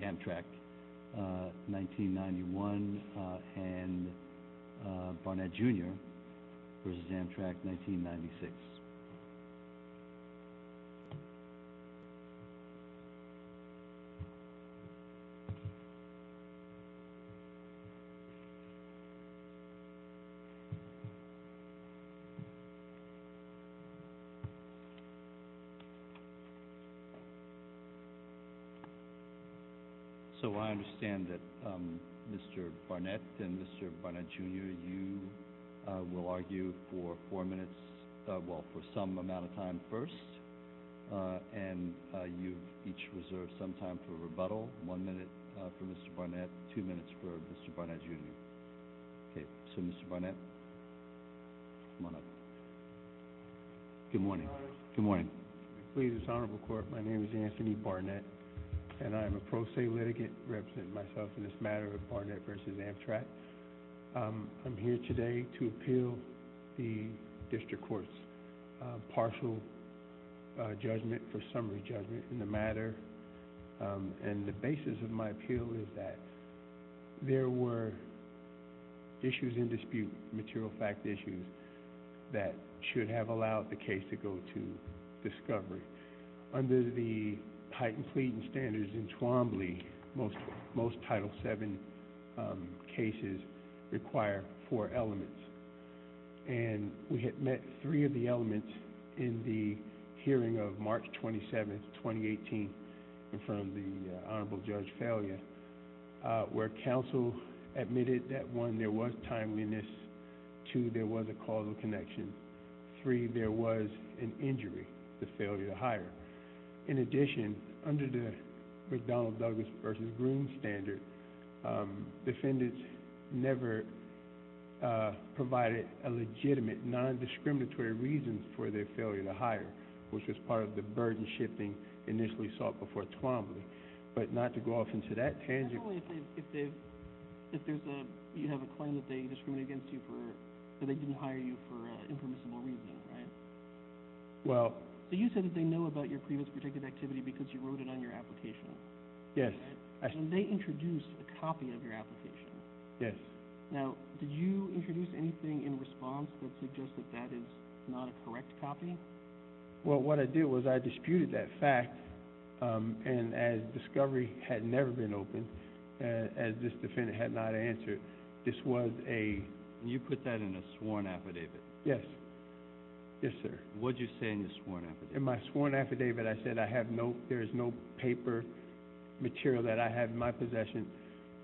Amtrak 1991 and Barnett Jr. v. Amtrak 1996. So I understand that Mr. Barnett and Mr. Barnett Jr. you will argue for some amount of time first, and you've each reserved some time for rebuttal, one minute for Mr. Barnett, two minutes for Mr. Barnett Jr. Okay, so Mr. Barnett, come on up. Good morning. Good morning. Please, this Honorable Court, my name is Anthony Barnett and I am a pro se litigant, representing myself in this matter of Barnett v. Amtrak. I'm here today to appeal the District Court's partial judgment for summary judgment in the matter. And the basis of my appeal is that there were issues in dispute, material fact issues, that should have allowed the case to go to discovery. Under the heightened pleading standards in Twombly, most Title VII cases require four elements. And we had met three of the elements in the hearing of March 27, 2018, from the Honorable Judge's failure, where counsel admitted that one, there was timeliness, two, there was a causal connection, three, there was an injury, the failure to hire. In addition, under the McDonnell-Douglas v. Groon standard, defendants never provided a legitimate, non-discriminatory reason for their failure to hire, which was part of the burden shifting initially sought before Twombly. But not to go off into that tangent. If you have a claim that they discriminated against you for, that they didn't hire you for impermissible reasons, right? Well. So you said that they know about your previous protected activity because you wrote it on your application. Yes. And they introduced a copy of your application. Yes. Now, did you introduce anything in response that suggests that that is not a correct copy? Well, what I did was I disputed that fact, and as discovery had never been open, as this defendant had not answered, this was a... You put that in a sworn affidavit. Yes. Yes, sir. What did you say in the sworn affidavit? In my sworn affidavit I said there is no paper material that I have in my possession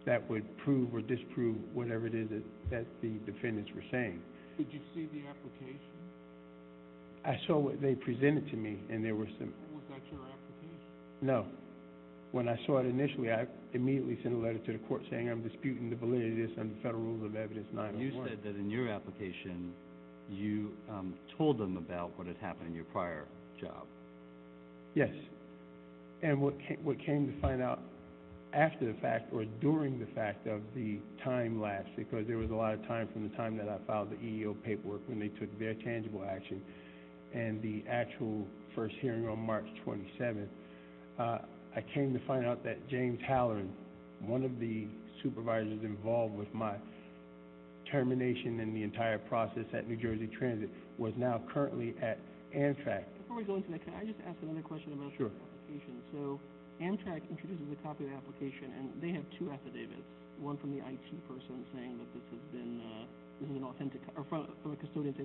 that would prove or disprove whatever it is that the defendants were saying. Did you see the application? I saw what they presented to me, and there were some... Was that your application? No. When I saw it initially, I immediately sent a letter to the court saying, I'm disputing the validity of this under Federal Rules of Evidence 901. And you said that in your application you told them about what had happened in your prior job. Yes. And what came to find out after the fact or during the fact of the time lapse, because there was a lot of time from the time that I filed the EEO paperwork when they took their tangible action and the actual first hearing on March 27th, I came to find out that James Halloran, one of the supervisors involved with my termination and the entire process at New Jersey Transit, was now currently at Amtrak. Before we go into that, can I just ask another question about your application? Sure. So Amtrak introduces a copy of the application, and they have two affidavits, one from a custodian saying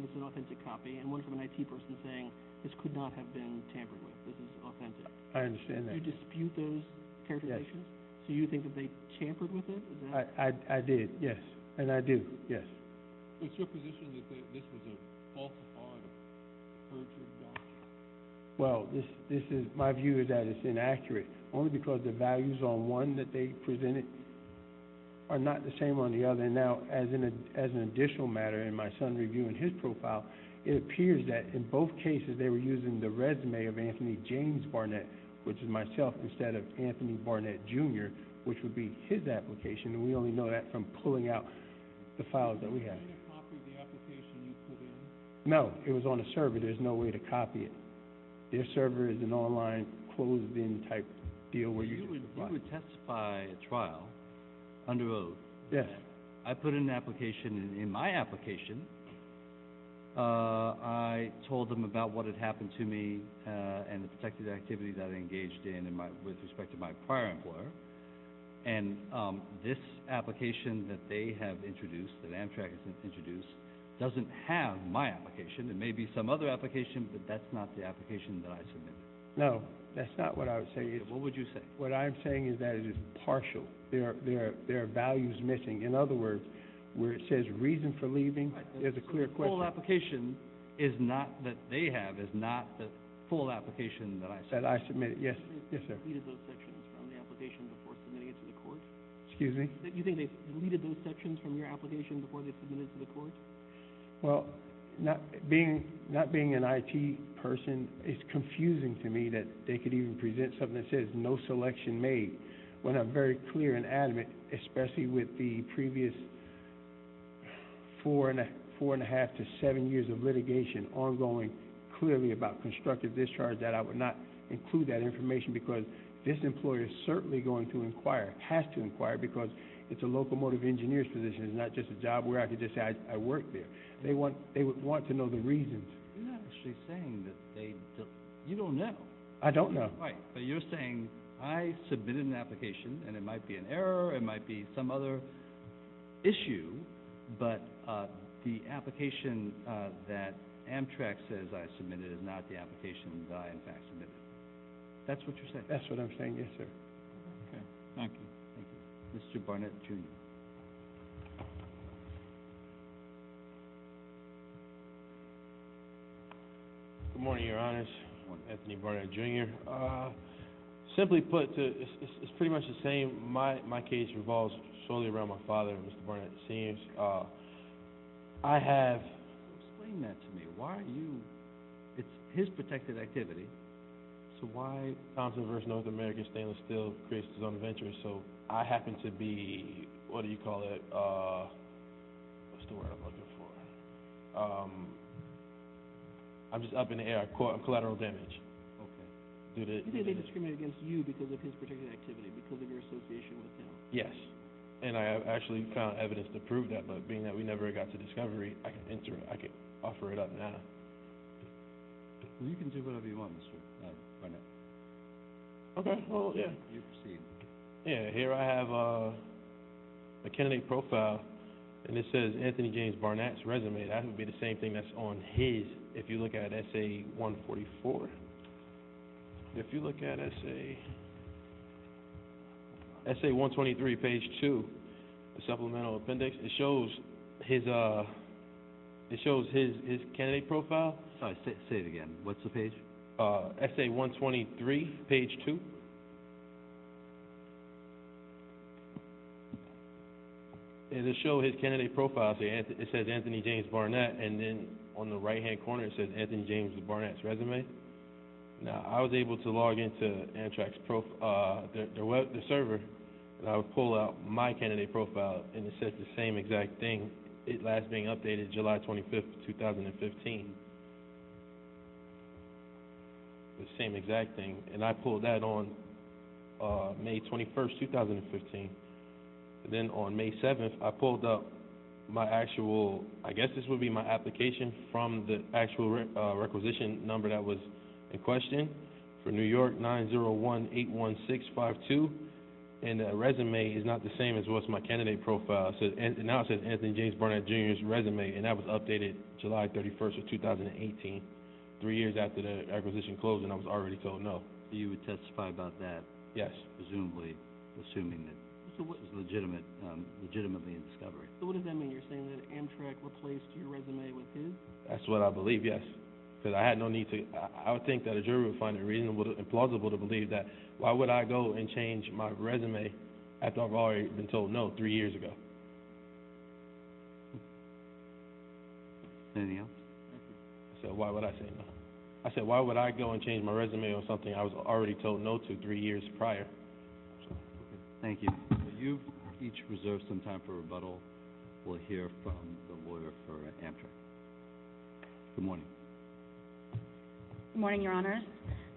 it's an authentic copy, and one from an IT person saying this could not have been tampered with, this is authentic. I understand that. You dispute those characterizations? Yes. So you think that they tampered with it? I did, yes, and I do, yes. What's your position that this was a falsified version of the document? Well, my view is that it's inaccurate, only because the values on one that they presented are not the same on the other. Now, as an additional matter in my son reviewing his profile, it appears that in both cases they were using the resume of Anthony James Barnett, which is myself, instead of Anthony Barnett, Jr., which would be his application, and we only know that from pulling out the files that we have. Was there a way to copy the application you pulled in? No, it was on a server. There's no way to copy it. Their server is an online closed-in type deal where you just reply. You would testify at trial under oath. Yes. I put an application in my application. I told them about what had happened to me and the protective activities I had engaged in with respect to my prior employer, and this application that they have introduced, that Amtrak has introduced, doesn't have my application. It may be some other application, but that's not the application that I submitted. No, that's not what I would say either. What would you say? What I'm saying is that it is partial. There are values missing. In other words, where it says reason for leaving, there's a clear question. So the full application is not that they have, is not the full application that I submitted? That I submitted, yes. You think they've deleted those sections from the application before submitting it to the court? Excuse me? You think they've deleted those sections from your application before they've submitted it to the court? Well, not being an IT person, it's confusing to me that they could even present something that says no selection made when I'm very clear and adamant, especially with the previous four and a half to seven years of litigation ongoing, clearly about constructive discharge that I would not include that information because this employer is certainly going to inquire, has to inquire, because it's a locomotive engineer's position. It's not just a job where I could just say I work there. They would want to know the reasons. You're not actually saying that they, you don't know. I don't know. Right. But you're saying I submitted an application and it might be an error, it might be some other issue, but the application that Amtrak says I submitted is not the application that I, in fact, submitted. That's what you're saying? That's what I'm saying, yes, sir. Okay. Thank you. Thank you. Mr. Barnett, Jr. Good morning, Your Honors. Anthony Barnett, Jr. Simply put, it's pretty much the same. My case revolves solely around my father, Mr. Barnett, Sr. I have – Explain that to me. Why are you – it's his protected activity, so why Thompson v. North American Stainless Steel creates its own venture? So I happen to be – what do you call it? What's the word I'm looking for? I'm just up in the air. Collateral damage. Okay. Do they discriminate against you because of his protected activity, because of your association with him? Yes. And I have actually found evidence to prove that, but being that we never got to discovery, I can offer it up now. You can do whatever you want, Mr. Barnett. Okay. You proceed. Here I have a candidate profile, and it says Anthony James Barnett's resume. That would be the same thing that's on his, if you look at Essay 144. If you look at Essay 123, page 2, supplemental appendix, it shows his candidate profile. Say it again. What's the page? Essay 123, page 2. And it shows his candidate profile, so it says Anthony James Barnett, and then on the right-hand corner it says Anthony James Barnett's resume. Now, I was able to log into Amtrak's – the server, and I would pull out my candidate profile, and it says the same exact thing. It last being updated July 25, 2015. The same exact thing. And I pulled that on May 21, 2015. Then on May 7, I pulled up my actual – I guess this would be my application from the actual requisition number that was in question, for New York 901-816-52, and the resume is not the same as what's in my candidate profile. Now it says Anthony James Barnett, Jr.'s resume, and that was updated July 31, 2018, three years after the acquisition closed, and I was already told no. So you would testify about that? Yes. Presumably, assuming that this is legitimately a discovery. So what does that mean? You're saying that Amtrak replaced your resume with his? That's what I believe, yes, because I had no need to – I would think that a jury would find it reasonable and plausible to believe that. Why would I go and change my resume after I've already been told no three years ago? Anything else? I said, why would I say no? I said, why would I go and change my resume on something I was already told no to three years prior? Thank you. You each reserve some time for rebuttal. We'll hear from the lawyer for Amtrak. Good morning. Good morning, Your Honors.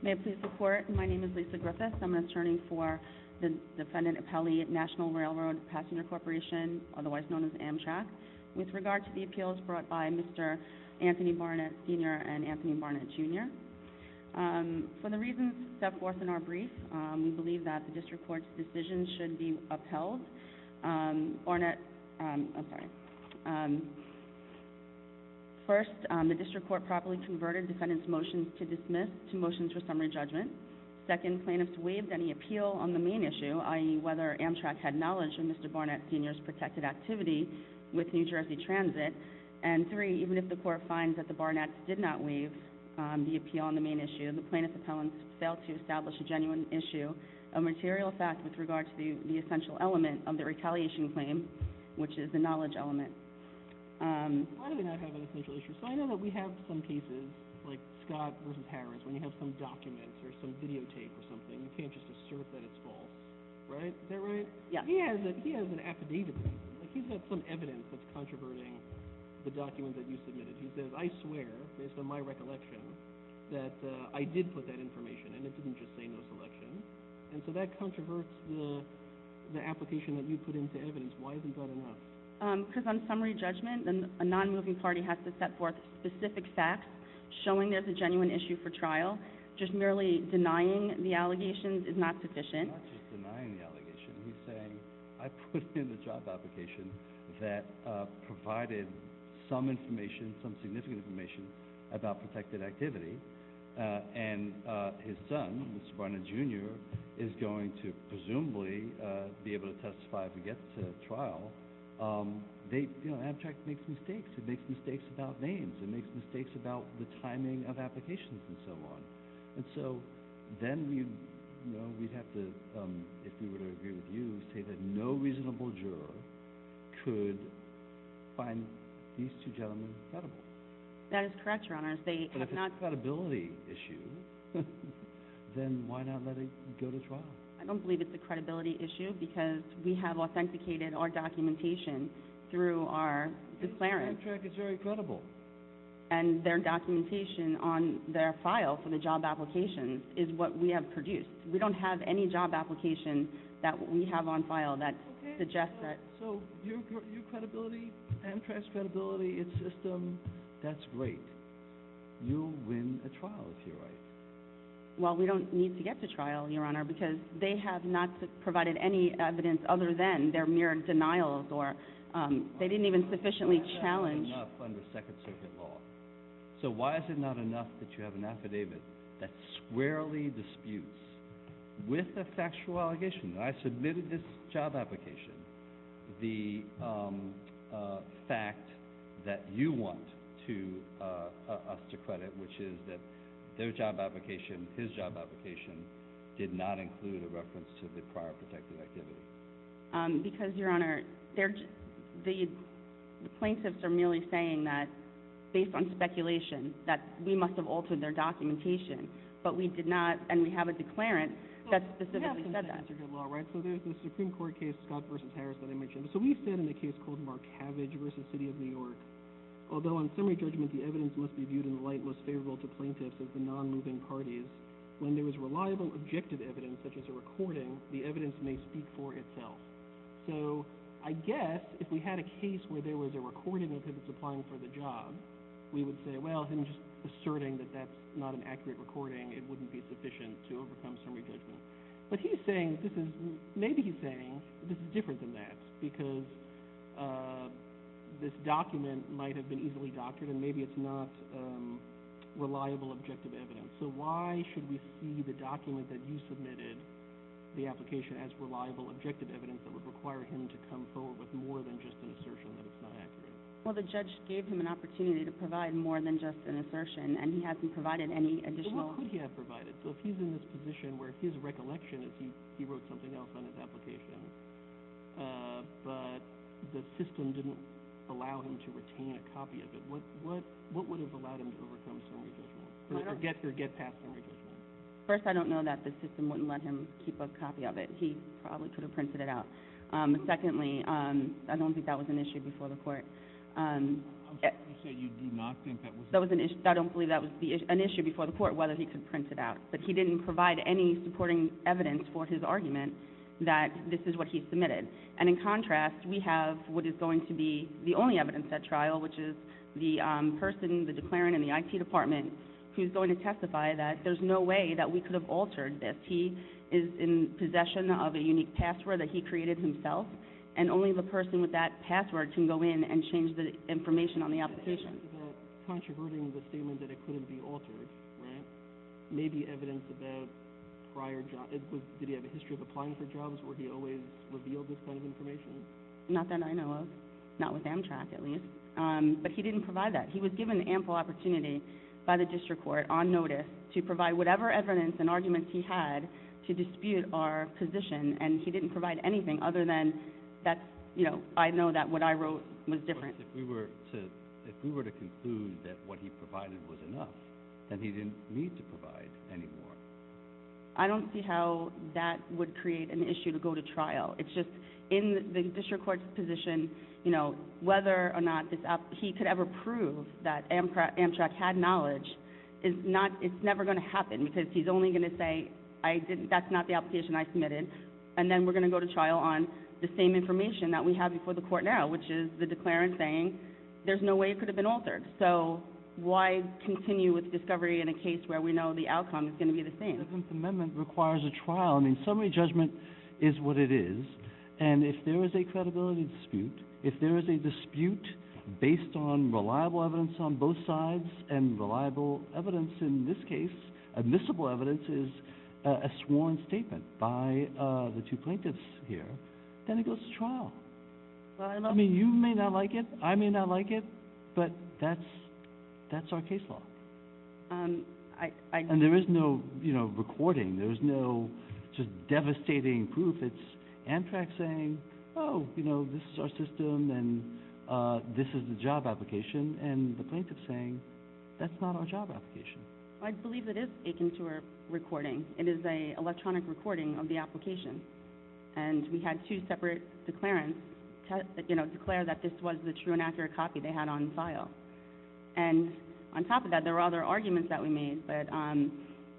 May I please report? My name is Lisa Griffiths. I'm an attorney for the defendant Appellee National Railroad Passenger Corporation, otherwise known as Amtrak. With regard to the appeals brought by Mr. Anthony Barnett, Sr. and Anthony Barnett, Jr., for the reasons set forth in our brief, we believe that the district court's decision should be upheld. Barnett – I'm sorry. First, the district court properly converted defendant's motions to dismiss to motions for summary judgment. Second, plaintiffs waived any appeal on the main issue, i.e., whether Amtrak had knowledge of Mr. Barnett, Sr.'s protected activity with New Jersey Transit. And three, even if the court finds that the Barnetts did not waive the appeal on the main issue, the plaintiffs' appellants fail to establish a genuine issue of material fact with regard to the essential element of the retaliation claim, which is the knowledge element. Why do we not have an essential issue? So I know that we have some cases, like Scott v. Harris, when you have some documents or some videotape or something. You can't just assert that it's false, right? Is that right? Yes. He has an affidavit. He's got some evidence that's controverting the document that you submitted. He says, I swear, based on my recollection, that I did put that information, and it didn't just say no selection. And so that controverts the application that you put into evidence. Why isn't that enough? Because on summary judgment, a non-moving party has to set forth specific facts showing there's a genuine issue for trial. Just merely denying the allegations is not sufficient. He's not just denying the allegations. He's saying, I put in the job application that provided some information, some significant information about protected activity, and his son, Mr. Barnett, Jr., is going to presumably be able to testify if he gets to trial. You know, ABTRACT makes mistakes. It makes mistakes about names. It makes mistakes about the timing of applications and so on. And so then we'd have to, if we were to agree with you, say that no reasonable juror could find these two gentlemen credible. That is correct, Your Honor. But if it's a credibility issue, then why not let it go to trial? I don't believe it's a credibility issue because we have authenticated our documentation through our declarant. ABTRACT is very credible. And their documentation on their file for the job application is what we have produced. We don't have any job application that we have on file that suggests that. Okay, so your credibility and trans-credibility, its system, that's great. You'll win a trial, if you're right. Well, we don't need to get to trial, Your Honor, because they have not provided any evidence other than their mere denials, or they didn't even sufficiently challenge. It's not enough under Second Circuit law. So why is it not enough that you have an affidavit that squarely disputes, with a factual allegation that I submitted this job application, the fact that you want us to credit, which is that their job application, his job application, did not include a reference to the prior protected activity? Because, Your Honor, the plaintiffs are merely saying that, based on speculation, that we must have altered their documentation. But we did not, and we have a declarant that specifically said that. So there's the Supreme Court case, Scott v. Harris, that I mentioned. So we said in a case called Markavage v. City of New York, although in summary judgment the evidence must be viewed in the light most favorable to plaintiffs of the non-moving parties, when there is reliable objective evidence, such as a recording, the evidence may speak for itself. So I guess if we had a case where there was a recording of him supplying for the job, we would say, well, him just asserting that that's not an accurate recording, it wouldn't be sufficient to overcome summary judgment. But he's saying, maybe he's saying, this is different than that, because this document might have been easily doctored, and maybe it's not reliable objective evidence. So why should we see the document that you submitted, the application, as reliable objective evidence that would require him to come forward with more than just an assertion that it's not accurate? Well, the judge gave him an opportunity to provide more than just an assertion, and he hasn't provided any additional – Well, what could he have provided? So if he's in this position where his recollection is he wrote something else on his application, but the system didn't allow him to retain a copy of it, what would have allowed him to overcome summary judgment? First, I don't know that the system wouldn't let him keep a copy of it. He probably could have printed it out. Secondly, I don't think that was an issue before the court. You say you do not think that was an issue? I don't believe that was an issue before the court, whether he could print it out. But he didn't provide any supporting evidence for his argument that this is what he submitted. And in contrast, we have what is going to be the only evidence at trial, which is the person, the declarant in the IT department, who's going to testify that there's no way that we could have altered this. He is in possession of a unique password that he created himself, and only the person with that password can go in and change the information on the application. Controverting the statement that it couldn't be altered, right? Maybe evidence about prior – did he have a history of applying for jobs? Would he always reveal this kind of information? Not that I know of. Not with Amtrak, at least. But he didn't provide that. He was given ample opportunity by the district court on notice to provide whatever evidence and arguments he had to dispute our position, and he didn't provide anything other than that's – I know that what I wrote was different. But if we were to conclude that what he provided was enough, then he didn't need to provide any more. I don't see how that would create an issue to go to trial. It's just in the district court's position, whether or not he could ever prove that Amtrak had knowledge, it's never going to happen because he's only going to say that's not the application I submitted, and then we're going to go to trial on the same information that we have before the court now, which is the declarant saying there's no way it could have been altered. So why continue with discovery in a case where we know the outcome is going to be the same? The Fifth Amendment requires a trial. I mean, summary judgment is what it is, and if there is a credibility dispute, if there is a dispute based on reliable evidence on both sides and reliable evidence in this case, admissible evidence, is a sworn statement by the two plaintiffs here, then it goes to trial. I mean, you may not like it, I may not like it, but that's our case law. And there is no recording. There is no just devastating proof. It's Amtrak saying, oh, you know, this is our system and this is the job application, and the plaintiff's saying that's not our job application. I believe it is akin to a recording. It is an electronic recording of the application, and we had two separate declarants declare that this was the true and accurate copy they had on file. And on top of that, there were other arguments that we made,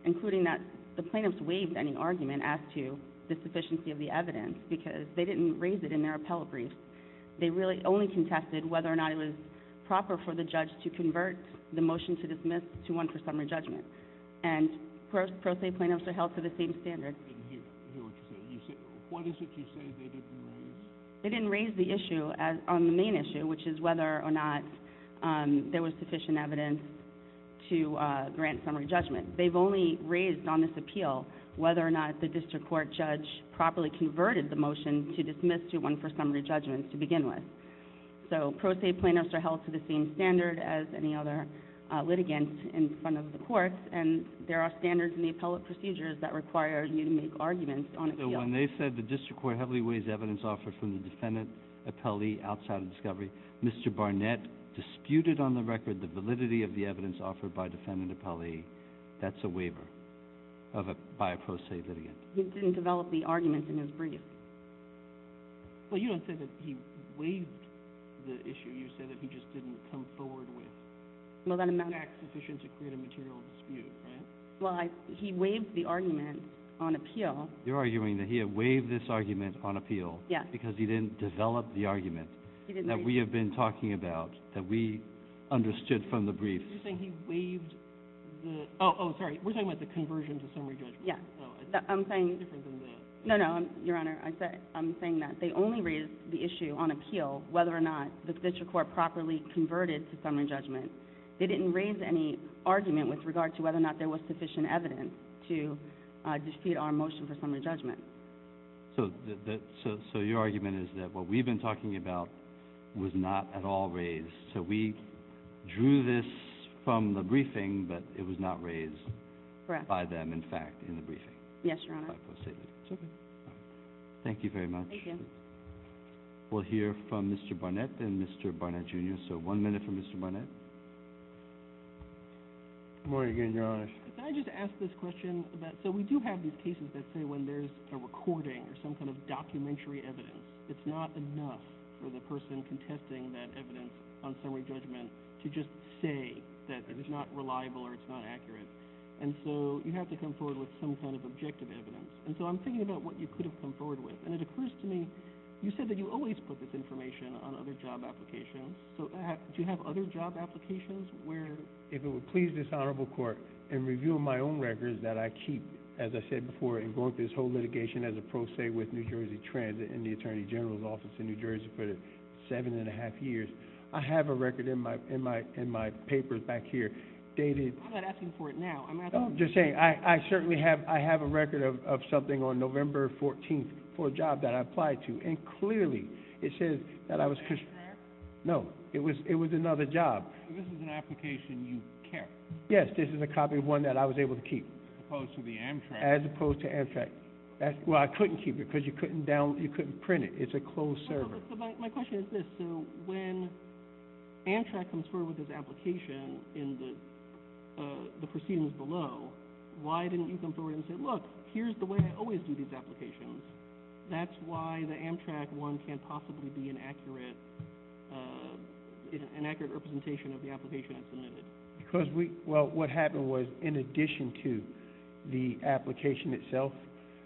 including that the plaintiffs waived any argument as to the sufficiency of the evidence because they didn't raise it in their appellate brief. They really only contested whether or not it was proper for the judge to convert the motion to dismiss to one for summary judgment. And pro se plaintiffs are held to the same standard. I didn't hear what you said. What is it you said they didn't raise? They didn't raise the issue on the main issue, which is whether or not there was sufficient evidence to grant summary judgment. They've only raised on this appeal whether or not the district court judge properly converted the motion to dismiss to one for summary judgment to begin with. So pro se plaintiffs are held to the same standard as any other litigants in front of the courts, and there are standards in the appellate procedures that require you to make arguments on appeal. So when they said the district court heavily waived evidence offered from the defendant appellee outside of discovery, Mr. Barnett disputed on the record the validity of the evidence offered by defendant appellee. That's a waiver by a pro se litigant. He didn't develop the argument in his brief. Well, you don't say that he waived the issue. You say that he just didn't come forward with facts sufficient to create a material dispute, right? Well, he waived the argument on appeal. You're arguing that he had waived this argument on appeal because he didn't develop the argument that we have been talking about, that we understood from the brief. You're saying he waived the – oh, sorry. We're talking about the conversion to summary judgment. Yeah. I'm saying – It's different than that. No, no, Your Honor. I'm saying that they only raised the issue on appeal whether or not the district court properly converted to summary judgment. They didn't raise any argument with regard to whether or not there was sufficient evidence to dispute our motion for summary judgment. So your argument is that what we've been talking about was not at all raised. So we drew this from the briefing, but it was not raised by them, in fact, in the briefing. Yes, Your Honor. Thank you very much. Thank you. We'll hear from Mr. Barnett and Mr. Barnett, Jr. So one minute for Mr. Barnett. Good morning again, Your Honor. Can I just ask this question about – so we do have these cases that say when there's a recording or some kind of documentary evidence, it's not enough for the person contesting that evidence on summary judgment to just say that it's not reliable or it's not accurate. And so you have to come forward with some kind of objective evidence. And so I'm thinking about what you could have come forward with. And it occurs to me, you said that you always put this information on other job applications. So do you have other job applications where – If it would please this Honorable Court in reviewing my own records that I keep, as I said before, in going through this whole litigation as a pro se with New Jersey Transit and the Attorney General's Office in New Jersey for seven and a half years, I have a record in my papers back here dated – I'm not asking for it now. I'm asking – I'm just saying I certainly have a record of something on November 14th for a job that I applied to. And clearly it says that I was – Is that incorrect? No. It was another job. So this is an application you kept? Yes. This is a copy of one that I was able to keep. As opposed to the Amtrak. As opposed to Amtrak. Well, I couldn't keep it because you couldn't print it. It's a closed server. My question is this. So when Amtrak comes forward with this application in the proceedings below, why didn't you come forward and say, look, here's the way I always do these applications. That's why the Amtrak one can't possibly be an accurate representation of the application that's submitted. Because we – well, what happened was in addition to the application itself,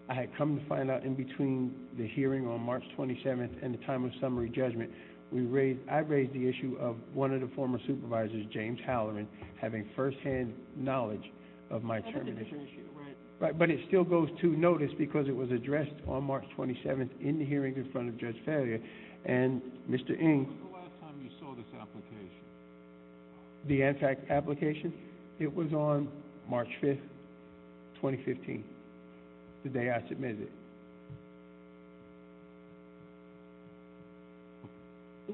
I had come to find out in between the hearing on March 27th and the time of summary judgment, I raised the issue of one of the former supervisors, James Halloran, having firsthand knowledge of my termination. That's a different issue, right? Right. But it still goes to notice because it was addressed on March 27th in the hearing in front of Judge Fowler. And Mr. Ng... When was the last time you saw this application? The Amtrak application? It was on March 5th, 2015, the day I submitted it. So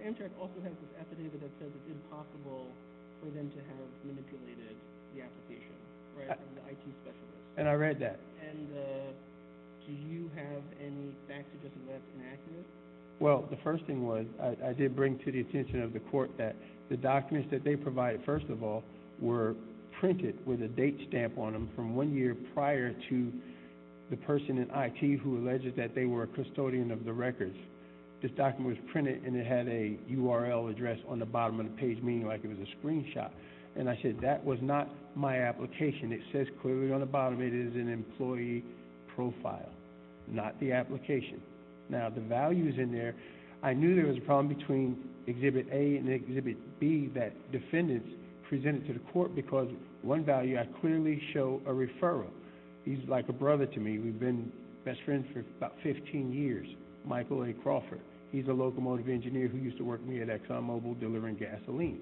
Amtrak also has this affidavit that says it's impossible for them to have manipulated the application, right, by the IT specialist? And I read that. And do you have any facts suggesting that's inaccurate? Well, the first thing was I did bring to the attention of the court that the documents that they provided, first of all, were printed with a date stamp on them from one year prior to the person in IT who alleged that they were a custodian of the records. This document was printed and it had a URL address on the bottom of the page, meaning like it was a screenshot. And I said that was not my application. It says clearly on the bottom it is an employee profile, not the application. Now, the values in there, I knew there was a problem between Exhibit A and Exhibit B that defendants presented to the court because one value, I clearly show a referral. He's like a brother to me. We've been best friends for about 15 years, Michael A. Crawford. He's a locomotive engineer who used to work for me at ExxonMobil delivering gasoline.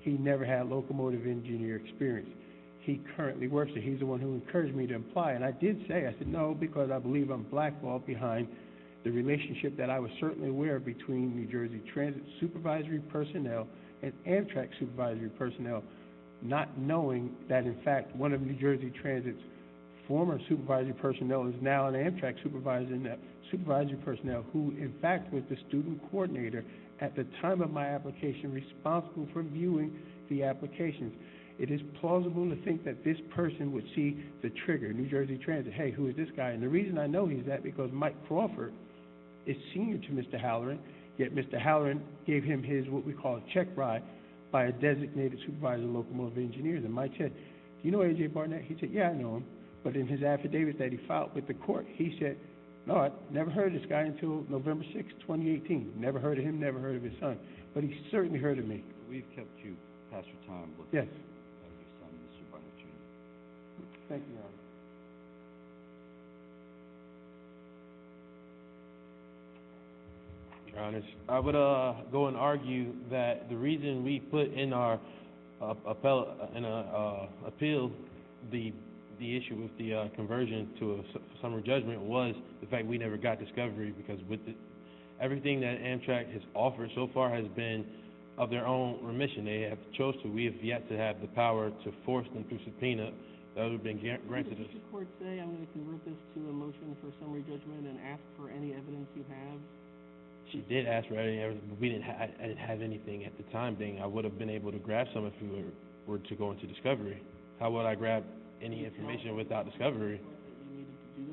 He never had locomotive engineer experience. He currently works there. He's the one who encouraged me to apply. And I did say, I said, no, because I believe I'm blackballed behind the relationship that I was certainly aware of between New Jersey Transit supervisory personnel and Amtrak supervisory personnel, not knowing that, in fact, one of New Jersey Transit's former supervisory personnel is now an Amtrak supervisory personnel who, in fact, was the student coordinator at the time of my application responsible for viewing the applications. It is plausible to think that this person would see the trigger, New Jersey Transit. Hey, who is this guy? And the reason I know he's that because Mike Crawford is senior to Mr. Halloran, yet Mr. Halloran gave him his what we call check ride by a designated supervisory locomotive engineer. And Mike said, do you know A.J. Barnett? He said, yeah, I know him. But in his affidavits that he filed with the court, he said, no, never heard of this guy until November 6, 2018. Never heard of him, never heard of his son. But he certainly heard of me. We've kept you past your time. Yes. Thank you, Your Honor. Your Honor, I would go and argue that the reason we put in our appeal the issue with the conversion to a summer judgment was the fact we never got discovery because everything that Amtrak has offered so far has been of their own remission. They have chosen. We have yet to have the power to force them through subpoena. That would have been granted us. Did the court say, I'm going to convert this to a motion for summary judgment and ask for any evidence you have? She did ask for any evidence. We didn't have anything at the time being. I would have been able to grab some if we were to go into discovery. How would I grab any information without discovery? Did you need to do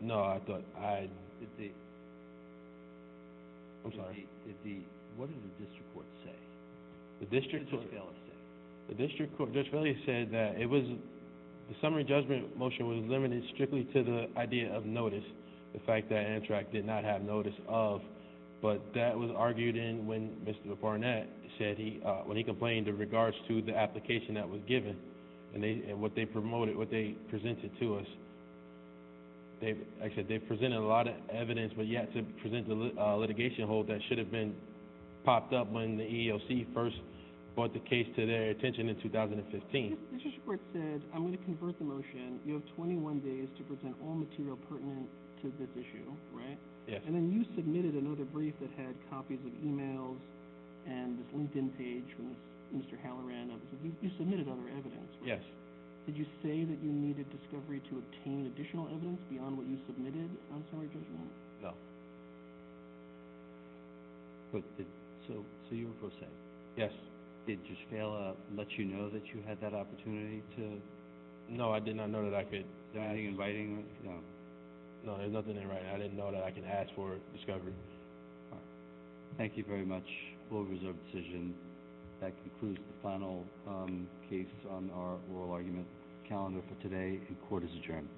that? No, I thought I'd. I'm sorry. What did the district court say? The district court just really said that the summary judgment motion was limited strictly to the idea of notice, the fact that Amtrak did not have notice of. But that was argued in when Mr. Barnett said he, when he complained in regards to the application that was given and what they promoted, what they presented to us. They presented a lot of evidence, but yet to present a litigation hold that should have been popped up when the EEOC first brought the case to their attention in 2015. The district court said, I'm going to convert the motion. You have 21 days to present all material pertinent to this issue, right? Yes. And then you submitted another brief that had copies of emails and this LinkedIn page from Mr. Halloran. You submitted other evidence, right? Yes. Did you say that you needed discovery to obtain additional evidence beyond what you submitted on summary judgment? No. So you were forsaken? Yes. Did it just fail to let you know that you had that opportunity to? No, I did not know that I could. Are you inviting them? No. There's nothing in writing. I didn't know that I could ask for discovery. All right. Thank you very much. Board reserve decision. That concludes the final case on our oral argument calendar for today. Court is adjourned. Thank you.